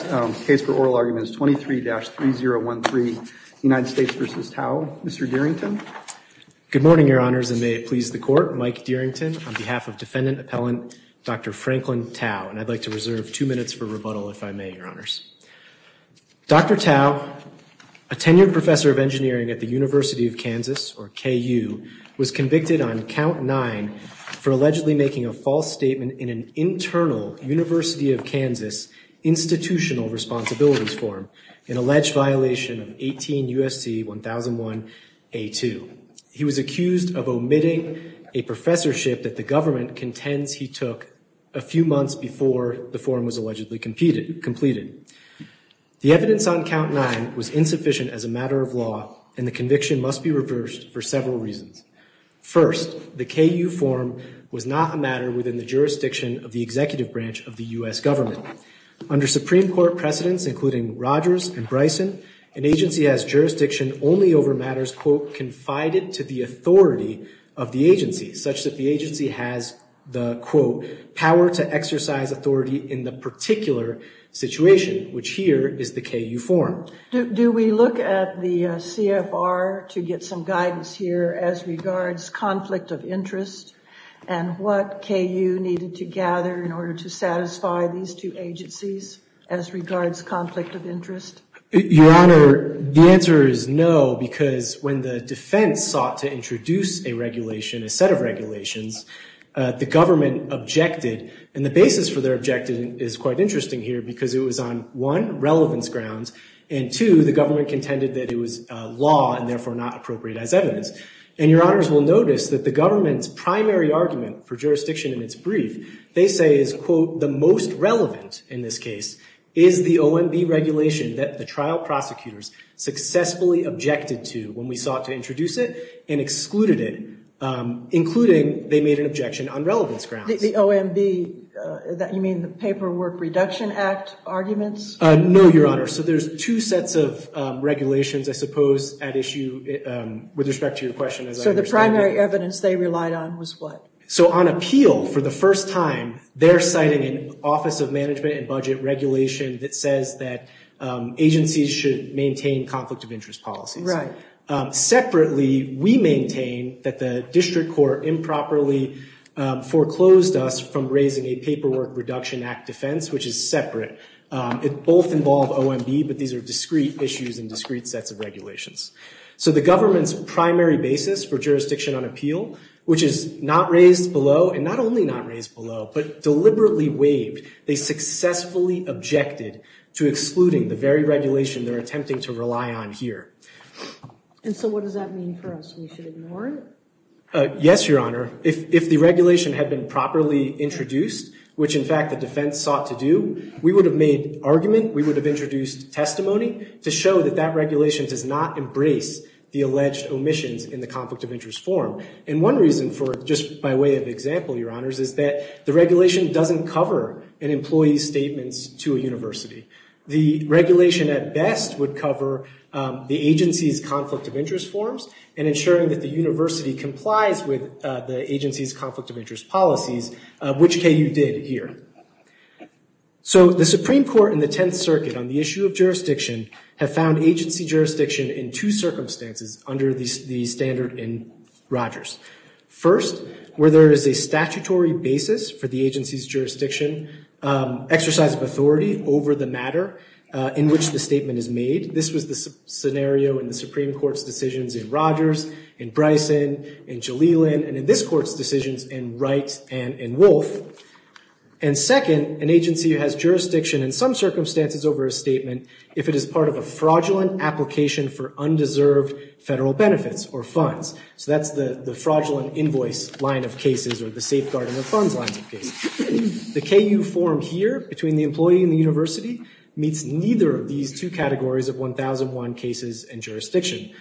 The case for oral argument is 23-3013, United States v. Tao. Mr. Dearington. Good morning, your honors, and may it please the court. Mike Dearington on behalf of defendant appellant Dr. Franklin Tao, and I'd like to reserve two minutes for rebuttal if I may, your honors. Dr. Tao, a tenured professor of engineering at the University of Kansas, or KU, was convicted on count nine for allegedly making a false statement in an internal University of Kansas institutional responsibilities form, an alleged violation of 18 U.S.C. 1001A2. He was accused of omitting a professorship that the government contends he took a few months before the form was allegedly completed. The evidence on count nine was insufficient as a matter of law, and the conviction must be reversed for several reasons. First, the KU form was not a matter within the jurisdiction of the executive branch of the U.S. government. Under Supreme Court precedents, including Rogers and Bryson, an agency has jurisdiction only over matters, quote, confided to the authority of the agency, such that the agency has the, quote, power to exercise authority in the particular situation, which here is the KU form. Do we look at the CFR to get some guidance here as regards conflict of interest and what KU needed to gather in order to satisfy these two agencies as regards conflict of interest? Your Honor, the answer is no, because when the defense sought to introduce a regulation, a set of regulations, the government objected. And the basis for their objection is quite interesting here, because it was on, one, relevance grounds, and two, the government contended that it was law and therefore not appropriate as evidence. And Your Honors will notice that the government's primary argument for jurisdiction in its brief, they say is, quote, the most relevant in this case is the OMB regulation that the trial prosecutors successfully objected to when we sought to introduce it and excluded it, including they made an objection on relevance grounds. The OMB, you mean the Paperwork Reduction Act arguments? No, Your Honor. So there's two sets of regulations, I suppose, at issue with respect to your question, as I understand it. So the primary evidence they relied on was what? So on appeal, for the first time, they're citing an Office of Management and Budget regulation that says that agencies should maintain conflict of interest policies. Right. Separately, we maintain that the district court improperly foreclosed us from raising a Paperwork Reduction Act defense, which is separate. It both involved OMB, but these are discrete issues and discrete sets of regulations. So the government's primary basis for jurisdiction on appeal, which is not raised below and not only not raised below, but deliberately waived, they successfully objected to excluding the very regulation they're attempting to rely on here. And so what does that mean for us? We should ignore it? Yes, Your Honor. If the regulation had been properly introduced, which in fact the defense sought to do, we would have made argument. We would have introduced testimony to show that that regulation does not embrace the alleged omissions in the conflict of interest form. And one reason for it, just by way of example, Your Honors, is that the regulation doesn't cover an employee's statements to a university. The regulation at best would cover the agency's conflict of interest forms and ensuring that the university complies with the agency's conflict of interest policies, which KU did here. So the Supreme Court and the Tenth Circuit on the issue of jurisdiction have found agency jurisdiction in two circumstances under the standard in Rogers. First, where there is a statutory basis for the agency's jurisdiction, exercise of authority over the matter in which the statement is made. This was the scenario in the Supreme Court's decisions in Rogers, in Bryson, in Jalilin, and in this Court's decisions in Wright and in Wolfe. And second, an agency has jurisdiction in some circumstances over a statement if it is part of a fraudulent application for undeserved federal benefits or funds. So that's the fraudulent invoice line of cases or the safeguarding of funds line of cases. The KU form here, between the employee and the university, meets neither of these two categories of 1001 cases and jurisdiction.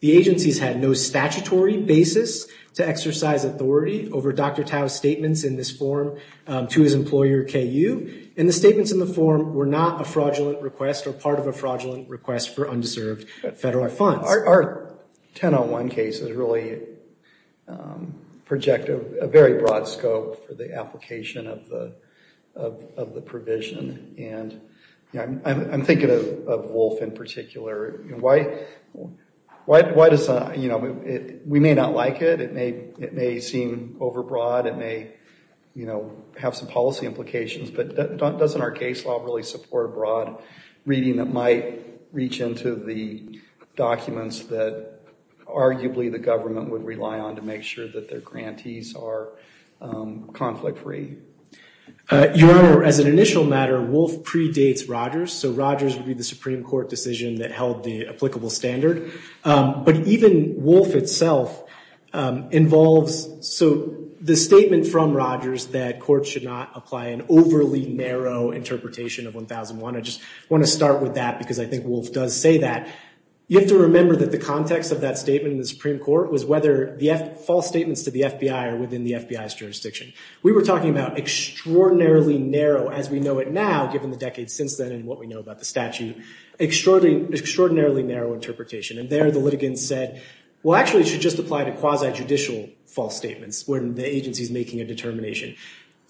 The agency's had no statutory basis to exercise authority over Dr. Tao's statements in this form to his employer, KU. And the statements in the form were not a fraudulent request or part of a fraudulent request for undeserved federal funds. Our 1001 cases really project a very broad scope for the application of the provision. And I'm thinking of Wolfe in particular. We may not like it. It may seem overbroad. It may have some policy implications. But doesn't our case law really support a broad reading that might reach into the documents that arguably the government would rely on to make sure that their grantees are conflict-free? Your Honor, as an initial matter, Wolfe predates Rogers. So Rogers would be the Supreme Court decision that held the applicable standard. But even Wolfe itself involves the statement from Rogers that courts should not apply an overly narrow interpretation of 1001. I just want to start with that because I think Wolfe does say that. You have to remember that the context of that statement in the Supreme Court was whether the false statements to the FBI are within the FBI's jurisdiction. We were talking about extraordinarily narrow, as we know it now, given the decades since then and what we know about the statute, extraordinarily narrow interpretation. And there the litigants said, well, actually, it should just apply to quasi-judicial false statements when the agency is making a determination.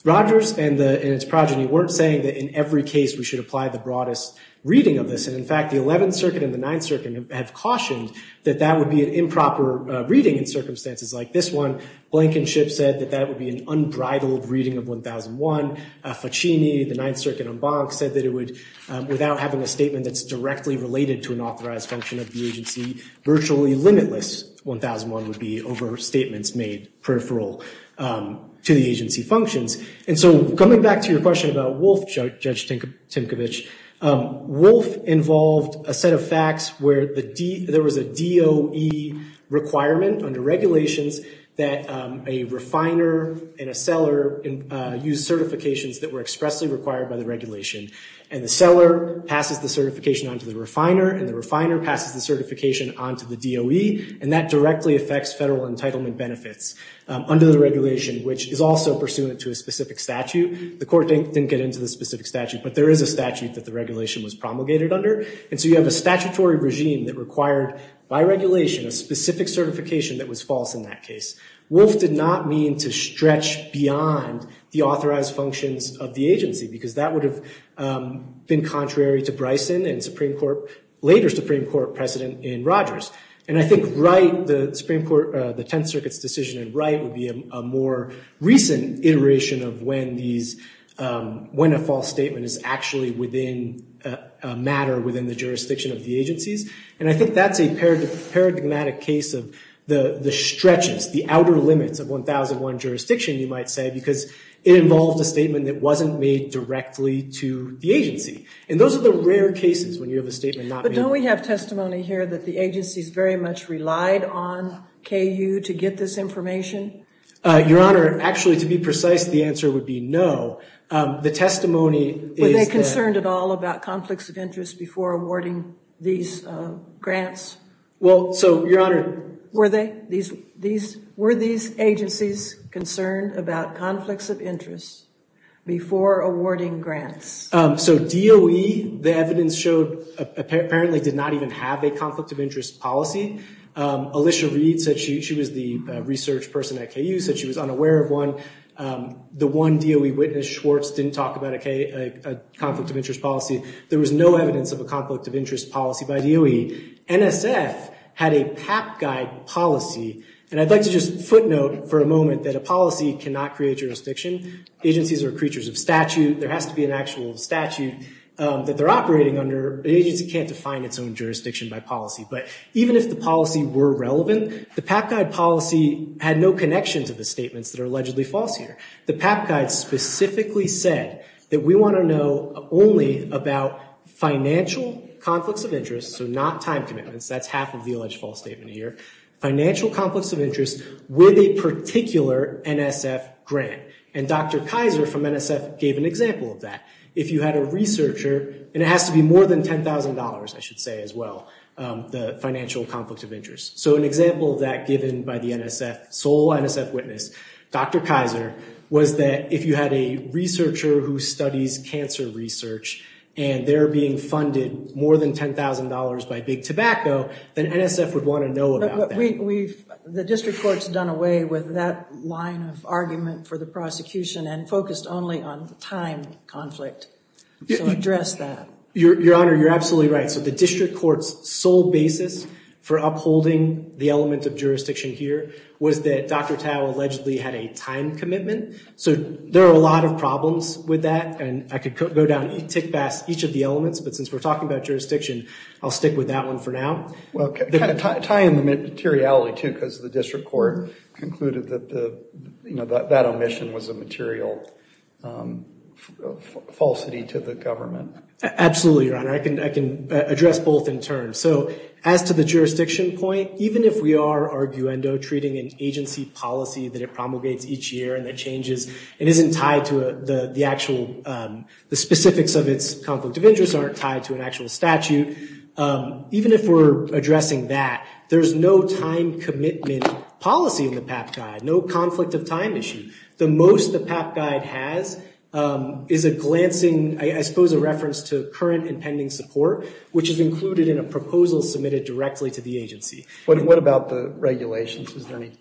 Rogers and its progeny weren't saying that in every case we should apply the broadest reading of this. And in fact, the 11th Circuit and the 9th Circuit have cautioned that that would be an improper reading in circumstances like this one. Blankenship said that that would be an unbridled reading of 1001. Faccini, the 9th Circuit en banc, said that it would, without having a statement that's directly related to an authorized function of the agency, virtually limitless 1001 would be over statements made peripheral to the agency functions. And so coming back to your question about Wolf, Judge Tinkovich, Wolf involved a set of facts where there was a DOE requirement under regulations that a refiner and a seller use certifications that were expressly required by the regulation. And the seller passes the certification on to the refiner and the refiner passes the certification on to the DOE. And that directly affects federal entitlement benefits under the regulation, which is also pursuant to a specific statute. The court didn't get into the specific statute, but there is a statute that the regulation was promulgated under. And so you have a statutory regime that required, by regulation, a specific certification that was false in that case. Wolf did not mean to stretch beyond the authorized functions of the agency because that would have been contrary to Bryson and Supreme Court, later Supreme Court, precedent in Rogers. And I think Wright, the Supreme Court, the Tenth Circuit's decision in Wright would be a more recent iteration of when these, when a false statement is actually within a matter within the jurisdiction of the agencies. And I think that's a paradigmatic case of the stretches, the outer limits of 1001 jurisdiction, you might say, because it involved a statement that wasn't made directly to the agency. And those are the rare cases when you have a statement not made. But don't we have testimony here that the agencies very much relied on KU to get this information? Your Honor, actually, to be precise, the answer would be no. The testimony is that- Were they concerned at all about conflicts of interest before awarding these grants? Well, so, Your Honor- Were they? Were these agencies concerned about conflicts of interest before awarding grants? So, DOE, the evidence showed, apparently did not even have a conflict of interest policy. Alicia Reed said she was the research person at KU, said she was unaware of one. The one DOE witness, Schwartz, didn't talk about a conflict of interest policy. There was no evidence of a conflict of interest policy by DOE. NSF had a PAP guide policy. And I'd like to just footnote for a moment that a policy cannot create jurisdiction. Agencies are creatures of statute. There has to be an actual statute that they're operating under. An agency can't define its own jurisdiction by policy. But even if the policy were relevant, the PAP guide policy had no connection to the statements that are allegedly false here. The PAP guide specifically said that we want to know only about financial conflicts of interest, so not time commitments. That's half of the alleged false statement here. Financial conflicts of interest with a particular NSF grant. And Dr. Kaiser from NSF gave an example of that. If you had a researcher, and it has to be more than $10,000, I should say, as well, the financial conflict of interest. So an example of that given by the NSF, sole NSF witness, Dr. Kaiser, was that if you had a researcher who studies cancer research, and they're being funded more than $10,000 by Big Tobacco, then NSF would want to know about that. The district court's done away with that line of argument for the prosecution and focused only on the time conflict. So address that. Your Honor, you're absolutely right. So the district court's sole basis for upholding the element of jurisdiction here was that Dr. Tao allegedly had a time commitment. So there are a lot of problems with that, and I could go down and tick past each of the elements. But since we're talking about jurisdiction, I'll stick with that one for now. Well, kind of tie in the materiality, too, because the district court concluded that that omission was a material falsity to the government. Absolutely, Your Honor. I can address both in turn. So as to the jurisdiction point, even if we are, arguendo, treating an agency policy that it promulgates each year and that changes and isn't tied to the actual specifics of its conflict of interest, aren't tied to an actual statute, even if we're addressing that, there's no time commitment policy in the PAP Guide, no conflict of time issue. The most the PAP Guide has is a glancing, I suppose a reference to current and pending support, which is included in a proposal submitted directly to the agency. What about the regulations? Is there any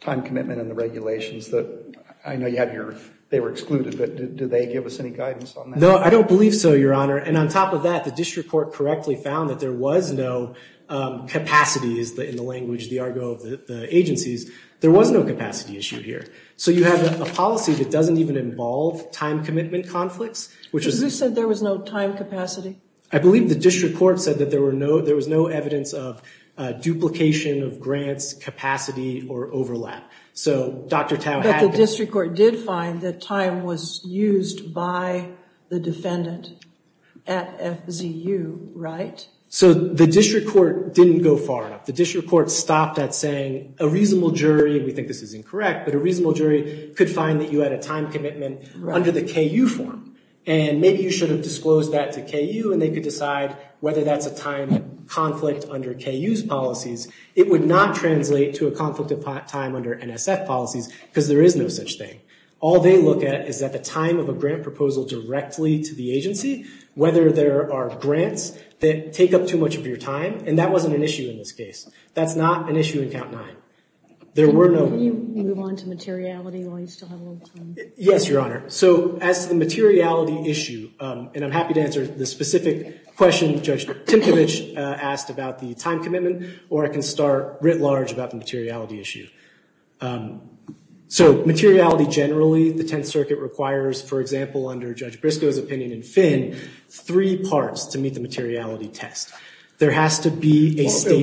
time commitment in the regulations that I know you have here? They were excluded, but do they give us any guidance on that? No, I don't believe so, Your Honor. And on top of that, the district court correctly found that there was no capacities in the language, the argo of the agencies. There was no capacity issue here. So you have a policy that doesn't even involve time commitment conflicts. Who said there was no time capacity? I believe the district court said that there was no evidence of duplication of grants, capacity, or overlap. But the district court did find that time was used by the defendant at FZU, right? So the district court didn't go far enough. The district court stopped at saying a reasonable jury, and we think this is incorrect, but a reasonable jury could find that you had a time commitment under the KU form, and maybe you should have disclosed that to KU, and they could decide whether that's a time conflict under KU's policies. It would not translate to a conflict of time under NSF policies because there is no such thing. All they look at is at the time of a grant proposal directly to the agency, whether there are grants that take up too much of your time, and that wasn't an issue in this case. That's not an issue in Count 9. There were no— Can you move on to materiality while you still have a little time? Yes, Your Honor. So as to the materiality issue, and I'm happy to answer the specific question Judge Timkovich asked about the time commitment, or I can start writ large about the materiality issue. So materiality generally, the Tenth Circuit requires, for example, under Judge Briscoe's opinion in Finn, three parts to meet the materiality test. There has to be a state— the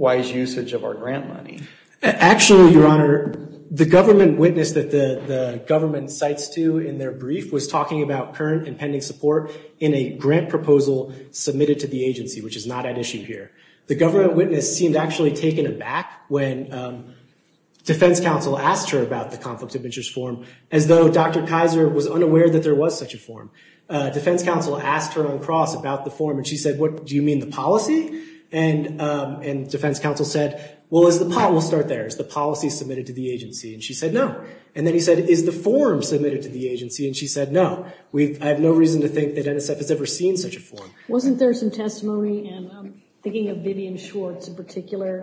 wise usage of our grant money. Actually, Your Honor, the government witness that the government cites to in their brief was talking about current and pending support in a grant proposal submitted to the agency, which is not at issue here. The government witness seemed actually taken aback when defense counsel asked her about the conflict of interest form, as though Dr. Kaiser was unaware that there was such a form. Defense counsel asked her on cross about the form, and she said, what, do you mean the policy? And defense counsel said, well, we'll start there. Is the policy submitted to the agency? And she said no. And then he said, is the form submitted to the agency? And she said no. I have no reason to think that NSF has ever seen such a form. Wasn't there some testimony, and I'm thinking of Vivian Schwartz in particular,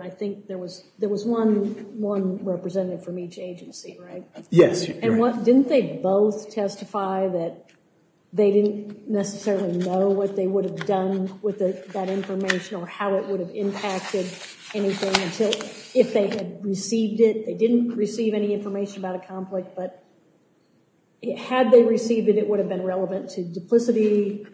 Yes, Your Honor. Didn't they both testify that they didn't necessarily know what they would have done with that information or how it would have impacted anything if they had received it? They didn't receive any information about a conflict, but had they received it, it would have been relevant to duplicity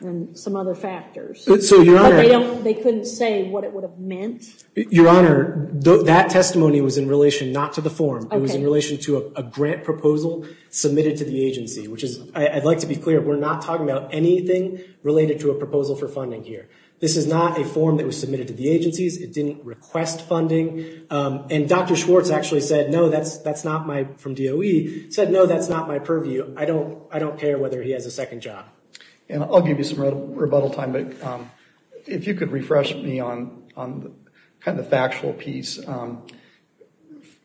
and some other factors. But they couldn't say what it would have meant? Your Honor, that testimony was in relation not to the form. It was in relation to a grant proposal submitted to the agency, which is, I'd like to be clear, we're not talking about anything related to a proposal for funding here. This is not a form that was submitted to the agencies. It didn't request funding. And Dr. Schwartz actually said no, that's not my, from DOE, said no, that's not my purview. I don't care whether he has a second job. And I'll give you some rebuttal time, but if you could refresh me on kind of the factual piece.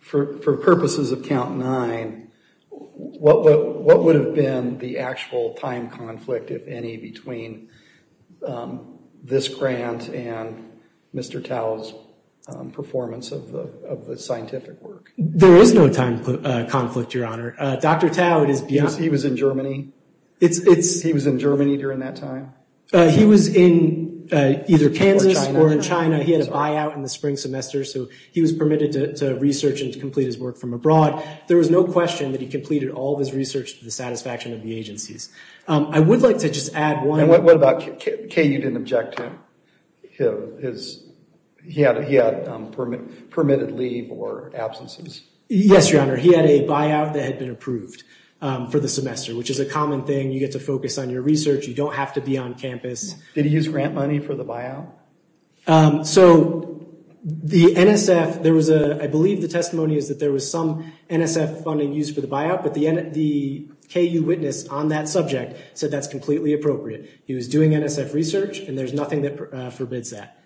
For purposes of count nine, what would have been the actual time conflict, if any, between this grant and Mr. Tao's performance of the scientific work? There is no time conflict, Your Honor. Dr. Tao, he was in Germany. He was in Germany during that time? He was in either Kansas or in China. He had a buyout in the spring semester, so he was permitted to research and to complete his work from abroad. There was no question that he completed all of his research to the satisfaction of the agencies. I would like to just add one. And what about, Kay, you didn't object to his, he had permitted leave or absences? Yes, Your Honor. He had a buyout that had been approved for the semester, which is a common thing. You get to focus on your research. You don't have to be on campus. Did he use grant money for the buyout? So, the NSF, there was a, I believe the testimony is that there was some NSF funding used for the buyout, but the KU witness on that subject said that's completely appropriate. He was doing NSF research, and there's nothing that forbids that.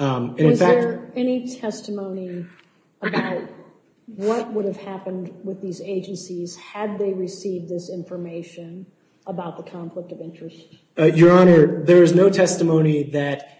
Was there any testimony about what would have happened with these agencies had they received this information about the conflict of interest? Your Honor, there is no testimony that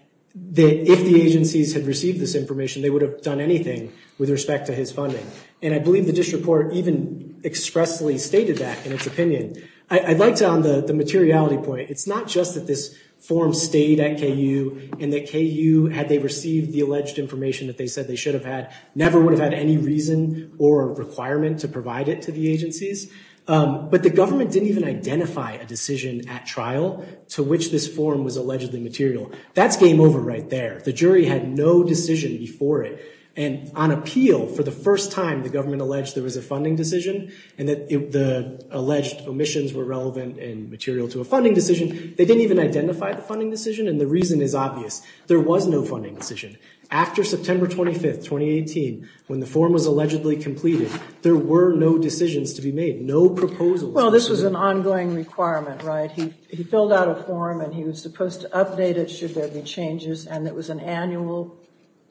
if the agencies had received this information, they would have done anything with respect to his funding. And I believe the district court even expressly stated that in its opinion. I'd like to, on the materiality point, it's not just that this form stayed at KU and that KU, had they received the alleged information that they said they should have had, never would have had any reason or requirement to provide it to the agencies. But the government didn't even identify a decision at trial to which this form was allegedly material. That's game over right there. The jury had no decision before it. And on appeal, for the first time, the government alleged there was a funding decision and that the alleged omissions were relevant and material to a funding decision. They didn't even identify the funding decision, and the reason is obvious. There was no funding decision. After September 25, 2018, when the form was allegedly completed, there were no decisions to be made, no proposals. Well, this was an ongoing requirement, right? He filled out a form and he was supposed to update it should there be changes, and it was an annual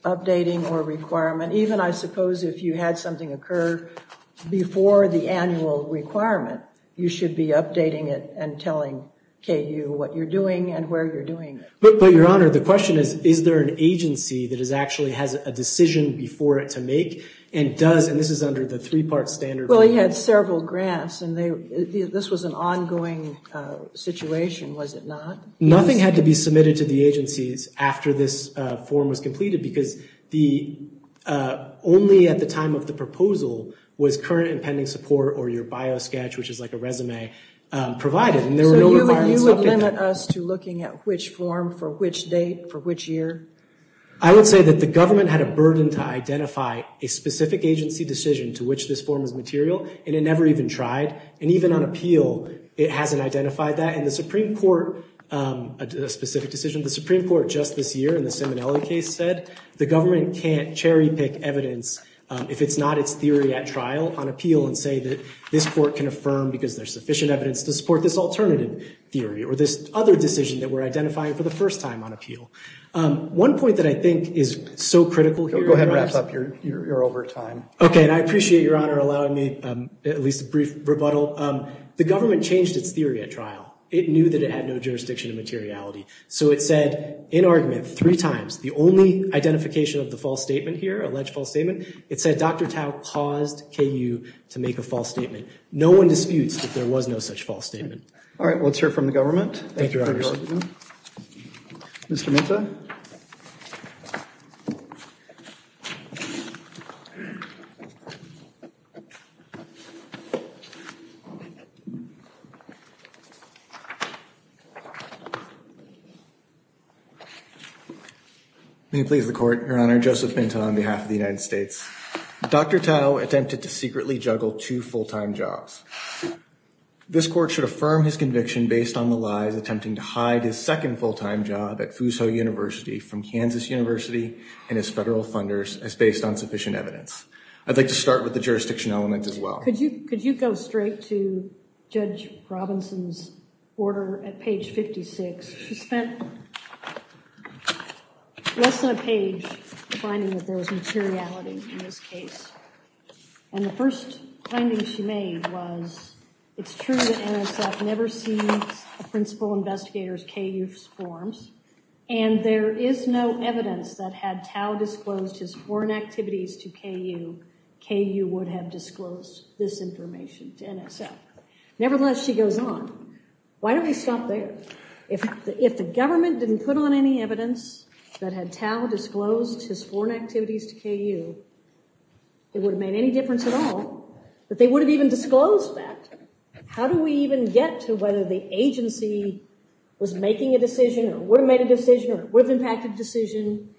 updating or requirement. Even, I suppose, if you had something occur before the annual requirement, you should be updating it and telling KU what you're doing and where you're doing it. But, Your Honor, the question is, is there an agency that actually has a decision before it to make and does? And this is under the three-part standard. Well, he had several grants, and this was an ongoing situation, was it not? Nothing had to be submitted to the agencies after this form was completed because only at the time of the proposal was current and pending support or your biosketch, which is like a resume, provided. So you would limit us to looking at which form for which date for which year? I would say that the government had a burden to identify a specific agency decision to which this form is material, and it never even tried. And even on appeal, it hasn't identified that. And the Supreme Court, a specific decision, the Supreme Court just this year in the Simonelli case said the government can't cherry-pick evidence if it's not its theory at trial on appeal and say that this court can affirm because there's sufficient evidence to support this alternative theory or this other decision that we're identifying for the first time on appeal. One point that I think is so critical here— Go ahead and wrap up. You're over time. Okay, and I appreciate, Your Honor, allowing me at least a brief rebuttal. The government changed its theory at trial. It knew that it had no jurisdiction of materiality. So it said in argument three times, the only identification of the false statement here, it said Dr. Tao caused KU to make a false statement. No one disputes that there was no such false statement. All right, let's hear from the government. Thank you, Your Honor. Mr. Minta. May it please the Court, Your Honor. Joseph Minta on behalf of the United States. Dr. Tao attempted to secretly juggle two full-time jobs. This court should affirm his conviction based on the lies attempting to hide his second full-time job at Fuso University. may I ask you to please stand and be recognized. from Kansas University and as federal funders as based on sufficient evidence. I'd like to start with the jurisdiction element as well. Could you go straight to Judge Robinson's order at page 56? She spent less than a page finding that there was materiality in this case. And the first finding she made was, it's true that NSF never sees a principal investigator's KU forms. And there is no evidence that had Tao disclosed his foreign activities to KU, KU would have disclosed this information to NSF. Nevertheless, she goes on. Why don't we stop there? If the government didn't put on any evidence that had Tao disclosed his foreign activities to KU, it would have made any difference at all that they would have even disclosed that. How do we even get to whether the agency was making a decision, or would have made a decision, or would have impacted a decision,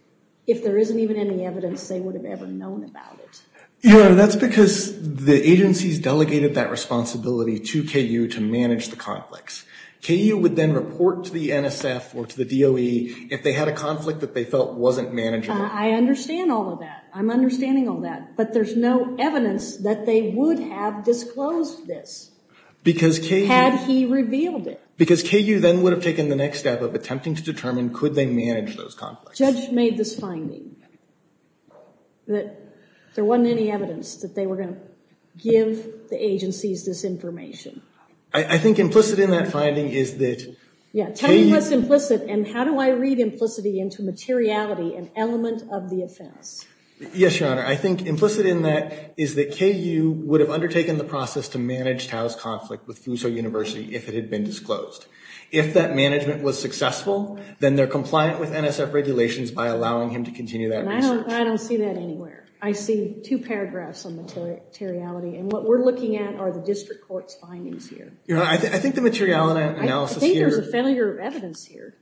if there isn't even any evidence they would have ever known about it? Yeah, that's because the agencies delegated that responsibility to KU to manage the conflicts. KU would then report to the NSF or to the DOE if they had a conflict that they felt wasn't manageable. I understand all of that. I'm understanding all that. But there's no evidence that they would have disclosed this had he revealed it. Because KU then would have taken the next step of attempting to determine could they manage those conflicts. Judge made this finding, that there wasn't any evidence that they were going to give the agencies this information. I think implicit in that finding is that KU- Yeah, tell me what's implicit, and how do I read implicitly into materiality and element of the offense? Yes, Your Honor. I think implicit in that is that KU would have undertaken the process to manage Tao's conflict with Fuso University if it had been disclosed. If that management was successful, then they're compliant with NSF regulations by allowing him to continue that research. I don't see that anywhere. I see two paragraphs on materiality, and what we're looking at are the district court's findings here. Your Honor, I think the materiality analysis here- I think there's a failure of evidence here.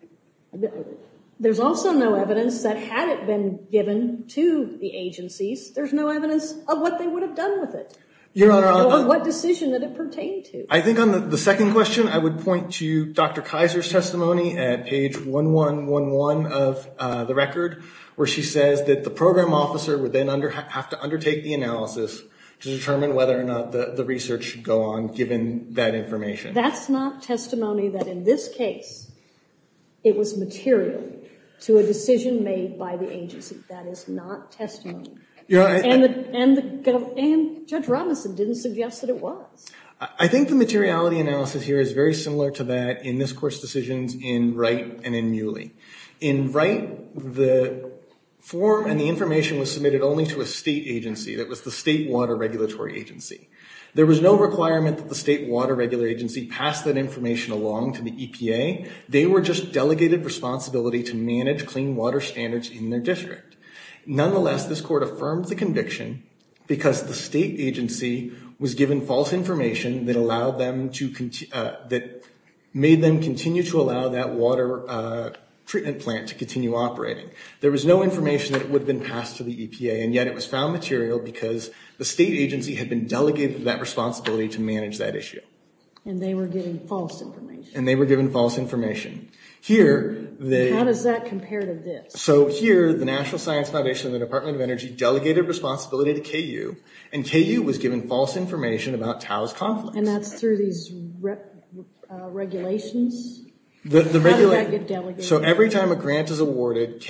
There's also no evidence that had it been given to the agencies, there's no evidence of what they would have done with it. Your Honor- Or what decision that it pertained to. I think on the second question, I would point to Dr. Kaiser's testimony at page 1111 of the record, where she says that the program officer would then have to undertake the analysis to determine whether or not the research should go on, given that information. That's not testimony that in this case, it was material to a decision made by the agency. That is not testimony. And Judge Robinson didn't suggest that it was. I think the materiality analysis here is very similar to that in this Court's decisions in Wright and in Muley. In Wright, the form and the information was submitted only to a state agency. That was the State Water Regulatory Agency. There was no requirement that the State Water Regulatory Agency pass that information along to the EPA. They were just delegated responsibility to manage clean water standards in their district. Nonetheless, this Court affirmed the conviction because the state agency was given false information that made them continue to allow that water treatment plant to continue operating. There was no information that would have been passed to the EPA, and yet it was found material because the state agency had been delegated that responsibility to manage that issue. And they were given false information. And they were given false information. How does that compare to this? So here, the National Science Foundation and the Department of Energy delegated responsibility to KU, and KU was given false information about TAO's confidence. And that's through these regulations? How did that get delegated? So every time a grant is awarded,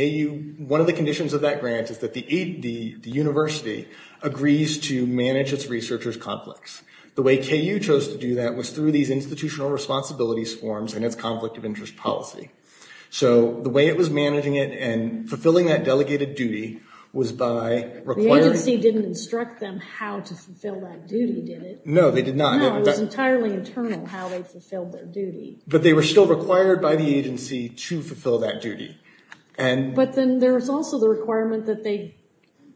one of the conditions of that grant is that the university agrees to manage its researchers' conflicts. The way KU chose to do that was through these institutional responsibilities forms and its conflict of interest policy. So the way it was managing it and fulfilling that delegated duty was by requiring – The agency didn't instruct them how to fulfill that duty, did it? No, they did not. But they were still required by the agency to fulfill that duty. But then there's also the requirement that they,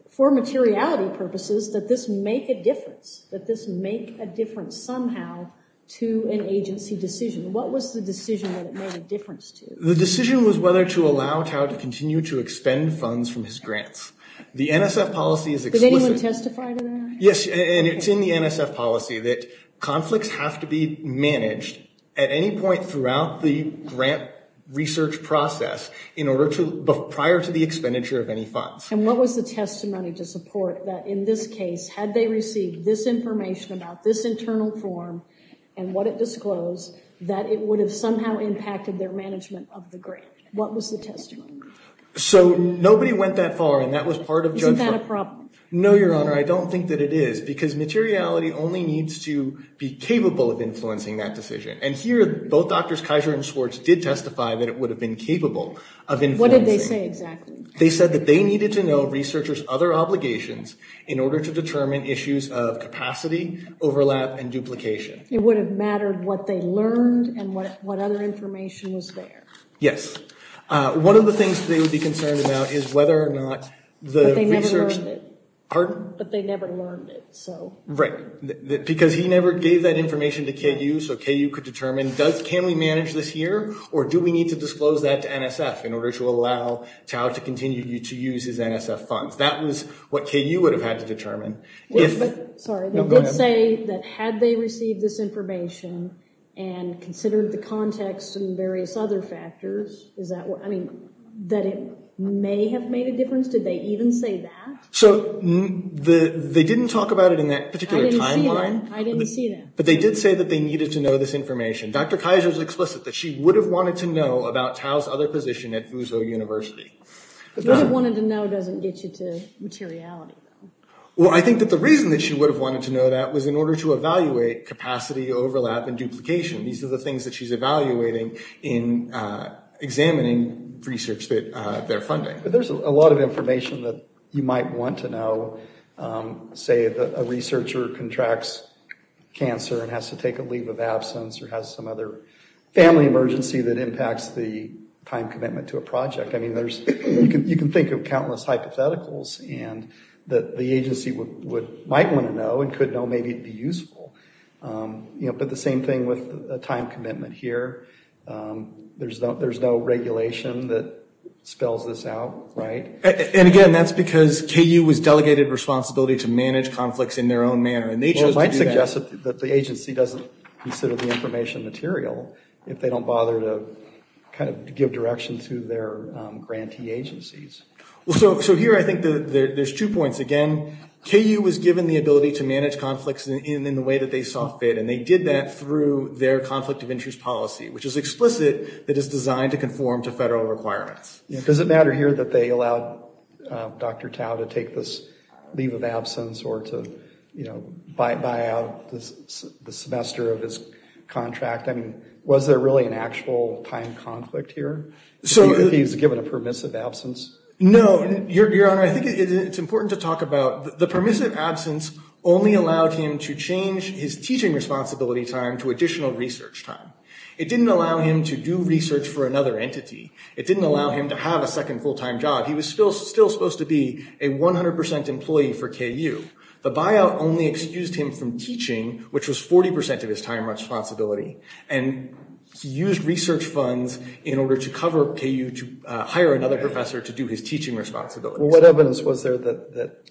for materiality purposes, that this make a difference, that this make a difference somehow to an agency decision. What was the decision that it made a difference to? The decision was whether to allow TAO to continue to expend funds from his grants. The NSF policy is explicit. Did anyone testify to that? Yes, and it's in the NSF policy that conflicts have to be managed at any point throughout the grant research process in order to – prior to the expenditure of any funds. And what was the testimony to support that, in this case, had they received this information about this internal form and what it disclosed, that it would have somehow impacted their management of the grant? What was the testimony? So nobody went that far, and that was part of – Isn't that a problem? No, Your Honor. I don't think that it is, because materiality only needs to be capable of influencing that decision. And here, both Drs. Kaiser and Schwartz did testify that it would have been capable of influencing. What did they say exactly? They said that they needed to know researchers' other obligations in order to determine issues of capacity, overlap, and duplication. It would have mattered what they learned and what other information was there. Yes. One of the things they would be concerned about is whether or not the research – Pardon? But they never learned it, so – Right. Because he never gave that information to KU, so KU could determine, can we manage this here, or do we need to disclose that to NSF in order to allow Tau to continue to use his NSF funds? That was what KU would have had to determine. Yes, but – Sorry. Let's say that had they received this information and considered the context and various other factors, is that – I mean, that it may have made a difference? Did they even say that? So they didn't talk about it in that particular timeline. I didn't see that. I didn't see that. But they did say that they needed to know this information. Dr. Kaiser is explicit that she would have wanted to know about Tau's other position at Fuso University. Would have wanted to know doesn't get you to materiality, though. Well, I think that the reason that she would have wanted to know that was in order to evaluate capacity, overlap, and duplication. These are the things that she's evaluating in examining research that they're funding. There's a lot of information that you might want to know. Say that a researcher contracts cancer and has to take a leave of absence or has some other family emergency that impacts the time commitment to a project. I mean, you can think of countless hypotheticals that the agency might want to know and could know may be useful. But the same thing with the time commitment here. There's no regulation that spells this out, right? And again, that's because KU was delegated responsibility to manage conflicts in their own manner. And they chose to do that. Well, it might suggest that the agency doesn't consider the information material if they don't bother to kind of give direction to their grantee agencies. So here I think there's two points. Again, KU was given the ability to manage conflicts in the way that they saw fit. And they did that through their conflict of interest policy, which is explicit that it's designed to conform to federal requirements. Does it matter here that they allowed Dr. Tao to take this leave of absence or to, you know, buy out the semester of his contract? I mean, was there really an actual time conflict here if he was given a permissive absence? No, Your Honor. I think it's important to talk about the permissive absence only allowed him to change his teaching responsibility time to additional research time. It didn't allow him to do research for another entity. It didn't allow him to have a second full-time job. He was still supposed to be a 100% employee for KU. The buyout only excused him from teaching, which was 40% of his time responsibility. And he used research funds in order to cover KU to hire another professor to do his teaching responsibility. Well, what evidence was there that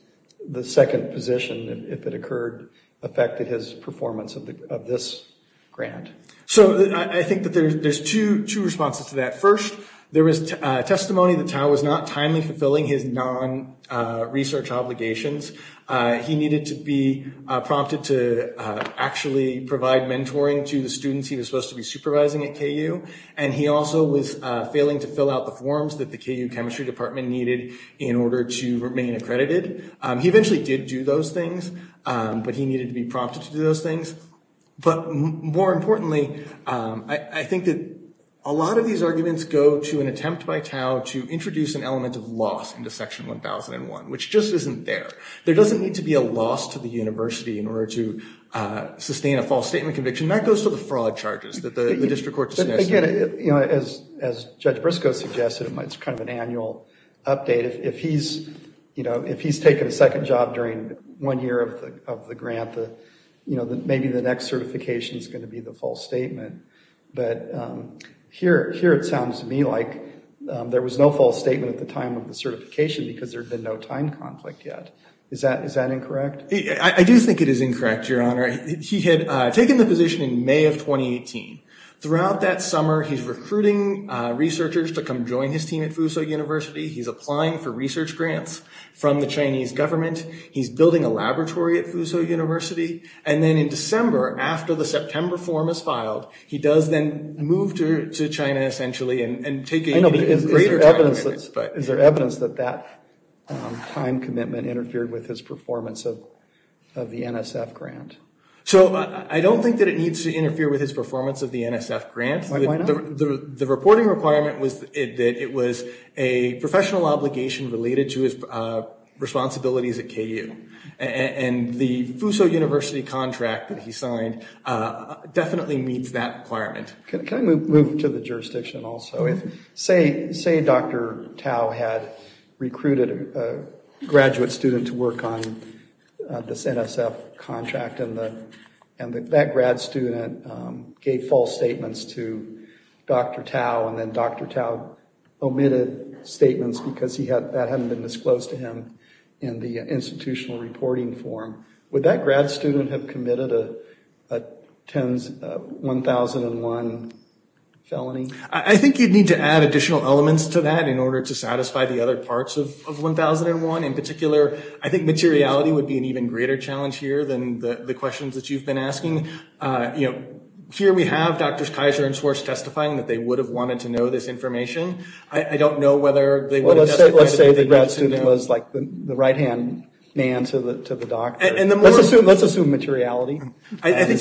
the second position, if it occurred, affected his performance of this grant? So I think that there's two responses to that. First, there is testimony that Tao was not timely fulfilling his non-research obligations. He needed to be prompted to actually provide mentoring to the students he was supposed to be supervising at KU. And he also was failing to fill out the forms that the KU chemistry department needed in order to remain accredited. He eventually did do those things, but he needed to be prompted to do those things. But more importantly, I think that a lot of these arguments go to an attempt by Tao to introduce an element of loss into Section 1001, which just isn't there. There doesn't need to be a loss to the university in order to sustain a false statement conviction. And that goes to the fraud charges that the district court dismissed. Again, as Judge Briscoe suggested, it's kind of an annual update. If he's taken a second job during one year of the grant, maybe the next certification is going to be the false statement. But here it sounds to me like there was no false statement at the time of the certification because there had been no time conflict yet. Is that incorrect? I do think it is incorrect, Your Honor. He had taken the position in May of 2018. Throughout that summer, he's recruiting researchers to come join his team at Fuso University. He's applying for research grants from the Chinese government. He's building a laboratory at Fuso University. And then in December, after the September form is filed, he does then move to China essentially and take a greater time. Is there evidence that that time commitment interfered with his performance of the NSF grant? So I don't think that it needs to interfere with his performance of the NSF grant. Why not? The reporting requirement was that it was a professional obligation related to his responsibilities at KU. And the Fuso University contract that he signed definitely meets that requirement. Can I move to the jurisdiction also? Say Dr. Tao had recruited a graduate student to work on this NSF contract and that grad student gave false statements to Dr. Tao and then Dr. Tao omitted statements because that hadn't been disclosed to him in the institutional reporting form. Would that grad student have committed a 1001 felony? I think you'd need to add additional elements to that in order to satisfy the other parts of 1001. In particular, I think materiality would be an even greater challenge here than the questions that you've been asking. Here we have Drs. Kaiser and Swartz testifying that they would have wanted to know this information. I don't know whether they would have- Let's say the grad student was the right hand man to the doctor. Let's assume materiality. Is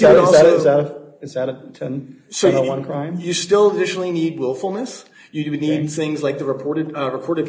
that a 1001 crime? You still additionally need willfulness. You would need things like the reported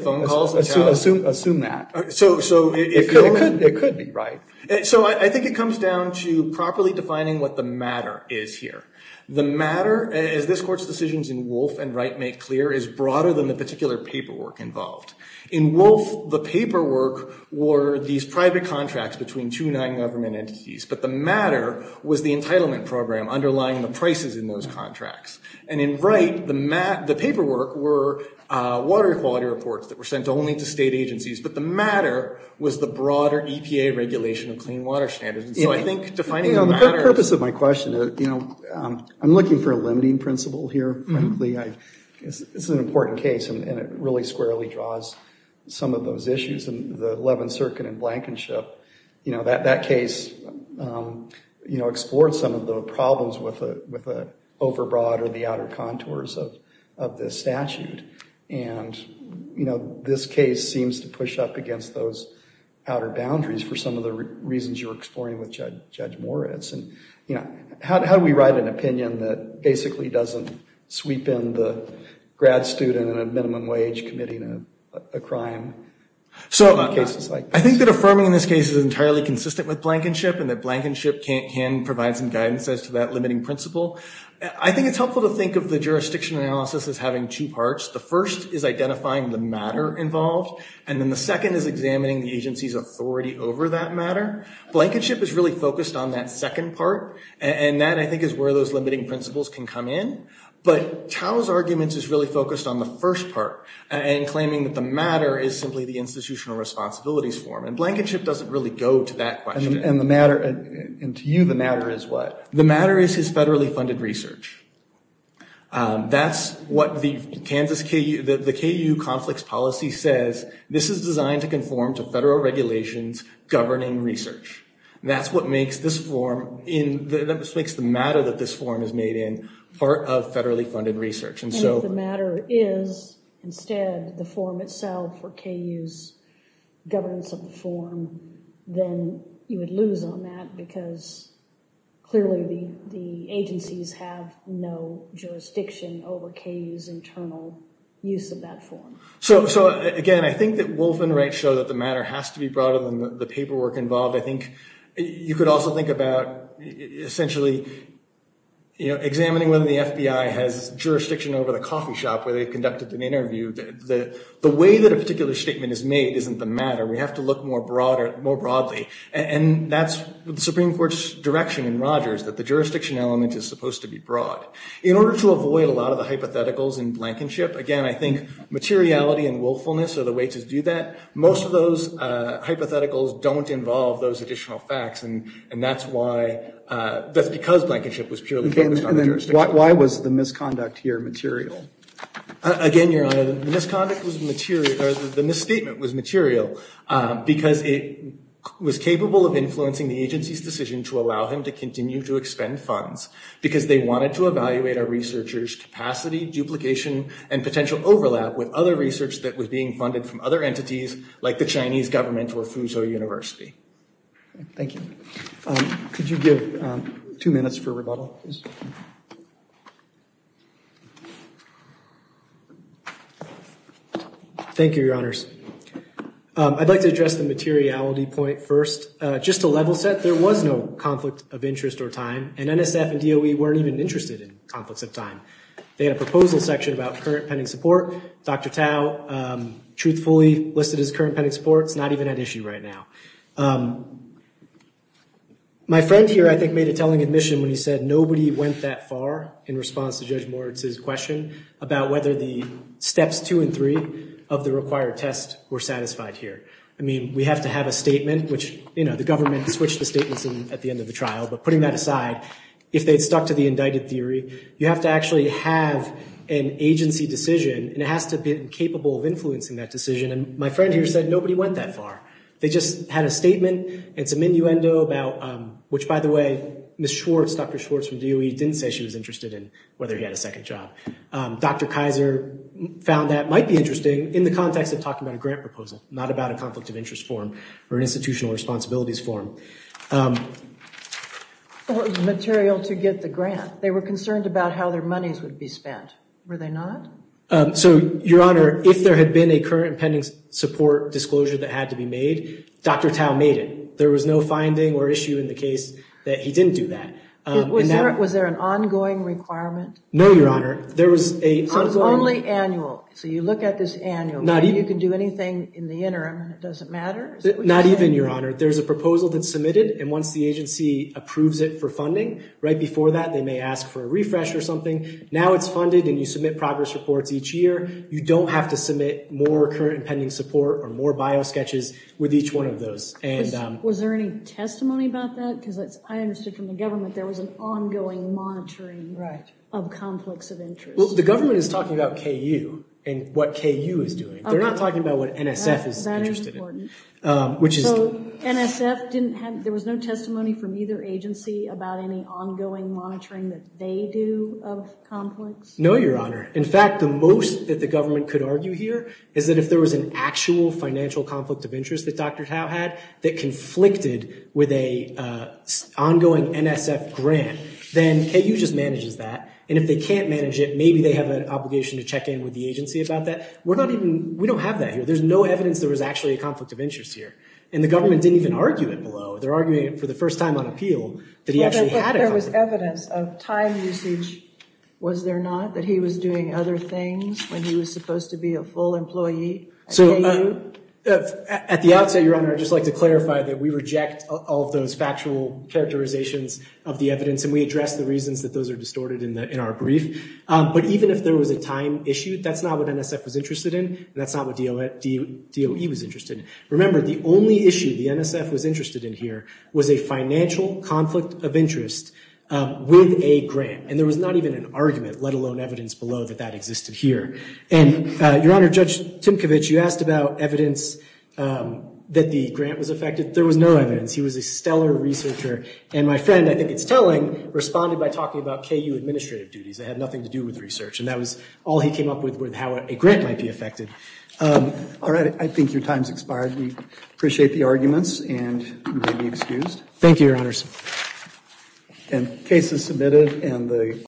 phone calls. Assume that. It could be right. I think it comes down to properly defining what the matter is here. The matter, as this Court's decisions in Wolfe and Wright make clear, is broader than the particular paperwork involved. In Wolfe, the paperwork were these private contracts between two non-government entities. But the matter was the entitlement program underlying the prices in those contracts. In Wright, the paperwork were water quality reports that were sent only to state agencies. But the matter was the broader EPA regulation of clean water standards. So I think defining the matter- The purpose of my question, I'm looking for a limiting principle here, frankly. It's an important case, and it really squarely draws some of those issues. In the Levin-Cirkin and Blankenship, that case explored some of the problems with the overbroad or the outer contours of this statute. And this case seems to push up against those outer boundaries for some of the reasons you're exploring with Judge Moritz. How do we write an opinion that basically doesn't sweep in the grad student in a minimum wage committing a crime? I think that affirming in this case is entirely consistent with Blankenship, and that Blankenship can provide some guidance as to that limiting principle. I think it's helpful to think of the jurisdiction analysis as having two parts. The first is identifying the matter involved, and then the second is examining the agency's authority over that matter. Blankenship is really focused on that second part, and that, I think, is where those limiting principles can come in. But Tao's argument is really focused on the first part and claiming that the matter is simply the institutional responsibilities form. And Blankenship doesn't really go to that question. And the matter, and to you, the matter is what? The matter is his federally funded research. That's what the Kansas KU, the KU conflicts policy says. This is designed to conform to federal regulations governing research. That's what makes this form, that makes the matter that this form is made in part of federally funded research. And if the matter is, instead, the form itself or KU's governance of the form, then you would lose on that because clearly the agencies have no jurisdiction over KU's internal use of that form. So, again, I think that Wolf and Wright show that the matter has to be broader than the paperwork involved. I think you could also think about essentially, you know, examining whether the FBI has jurisdiction over the coffee shop where they conducted an interview. The way that a particular statement is made isn't the matter. We have to look more broadly. And that's the Supreme Court's direction in Rogers, that the jurisdiction element is supposed to be broad. In order to avoid a lot of the hypotheticals in Blankenship, again, I think materiality and willfulness are the way to do that. Most of those hypotheticals don't involve those additional facts. And that's why, that's because Blankenship was purely focused on the jurisdiction. Why was the misconduct here material? Again, Your Honor, the misconduct was material, or the misstatement was material because it was capable of influencing the agency's decision to allow him to continue to expend funds. Because they wanted to evaluate a researcher's capacity, duplication, and potential overlap with other research that was being funded from other entities like the Chinese government or Fuso University. Thank you. Could you give two minutes for rebuttal? Thank you, Your Honors. I'd like to address the materiality point first. Just to level set, there was no conflict of interest or time. And NSF and DOE weren't even interested in conflicts of time. They had a proposal section about current pending support. Dr. Tao, truthfully, listed his current pending support. It's not even at issue right now. My friend here, I think, made a telling admission when he said nobody went that far in response to Judge Moritz's question about whether the steps two and three of the required test were satisfied here. I mean, we have to have a statement, which the government switched the statements at the end of the trial. But putting that aside, if they'd stuck to the indicted theory, you have to actually have an agency decision. And it has to be capable of influencing that decision. And my friend here said nobody went that far. They just had a statement and some innuendo about which, by the way, Ms. Schwartz, Dr. Schwartz from DOE, didn't say she was interested in whether he had a second job. Dr. Kaiser found that might be interesting in the context of talking about a grant proposal, not about a conflict of interest form or an institutional responsibilities form. It was material to get the grant. They were concerned about how their monies would be spent. Were they not? So, Your Honor, if there had been a current pending support disclosure that had to be made, Dr. Tao made it. There was no finding or issue in the case that he didn't do that. Was there an ongoing requirement? No, Your Honor. Only annual. So you look at this annual. You can do anything in the interim. It doesn't matter. Not even, Your Honor. There's a proposal that's submitted, and once the agency approves it for funding, right before that they may ask for a refresh or something. Now it's funded and you submit progress reports each year. You don't have to submit more current pending support or more biosketches with each one of those. Was there any testimony about that? Because I understood from the government there was an ongoing monitoring of conflicts of interest. Well, the government is talking about KU and what KU is doing. They're not talking about what NSF is interested in. That is important. So NSF didn't have, there was no testimony from either agency about any ongoing monitoring that they do of conflicts? No, Your Honor. In fact, the most that the government could argue here is that if there was an actual financial conflict of interest that Dr. Tao had that conflicted with an ongoing NSF grant, then KU just manages that, and if they can't manage it, maybe they have an obligation to check in with the agency about that. We're not even, we don't have that here. There's no evidence there was actually a conflict of interest here, and the government didn't even argue it below. They're arguing it for the first time on appeal that he actually had a conflict. If there was evidence of time usage, was there not, that he was doing other things when he was supposed to be a full employee at KU? So at the outset, Your Honor, I'd just like to clarify that we reject all of those factual characterizations of the evidence, and we address the reasons that those are distorted in our brief. But even if there was a time issue, that's not what NSF was interested in, and that's not what DOE was interested in. Remember, the only issue the NSF was interested in here was a financial conflict of interest with a grant, and there was not even an argument, let alone evidence below, that that existed here. And, Your Honor, Judge Timkovich, you asked about evidence that the grant was affected. There was no evidence. He was a stellar researcher, and my friend, I think it's telling, responded by talking about KU administrative duties. They had nothing to do with research, and that was all he came up with with how a grant might be affected. All right, I think your time's expired. We appreciate the arguments, and you may be excused. Thank you, Your Honors.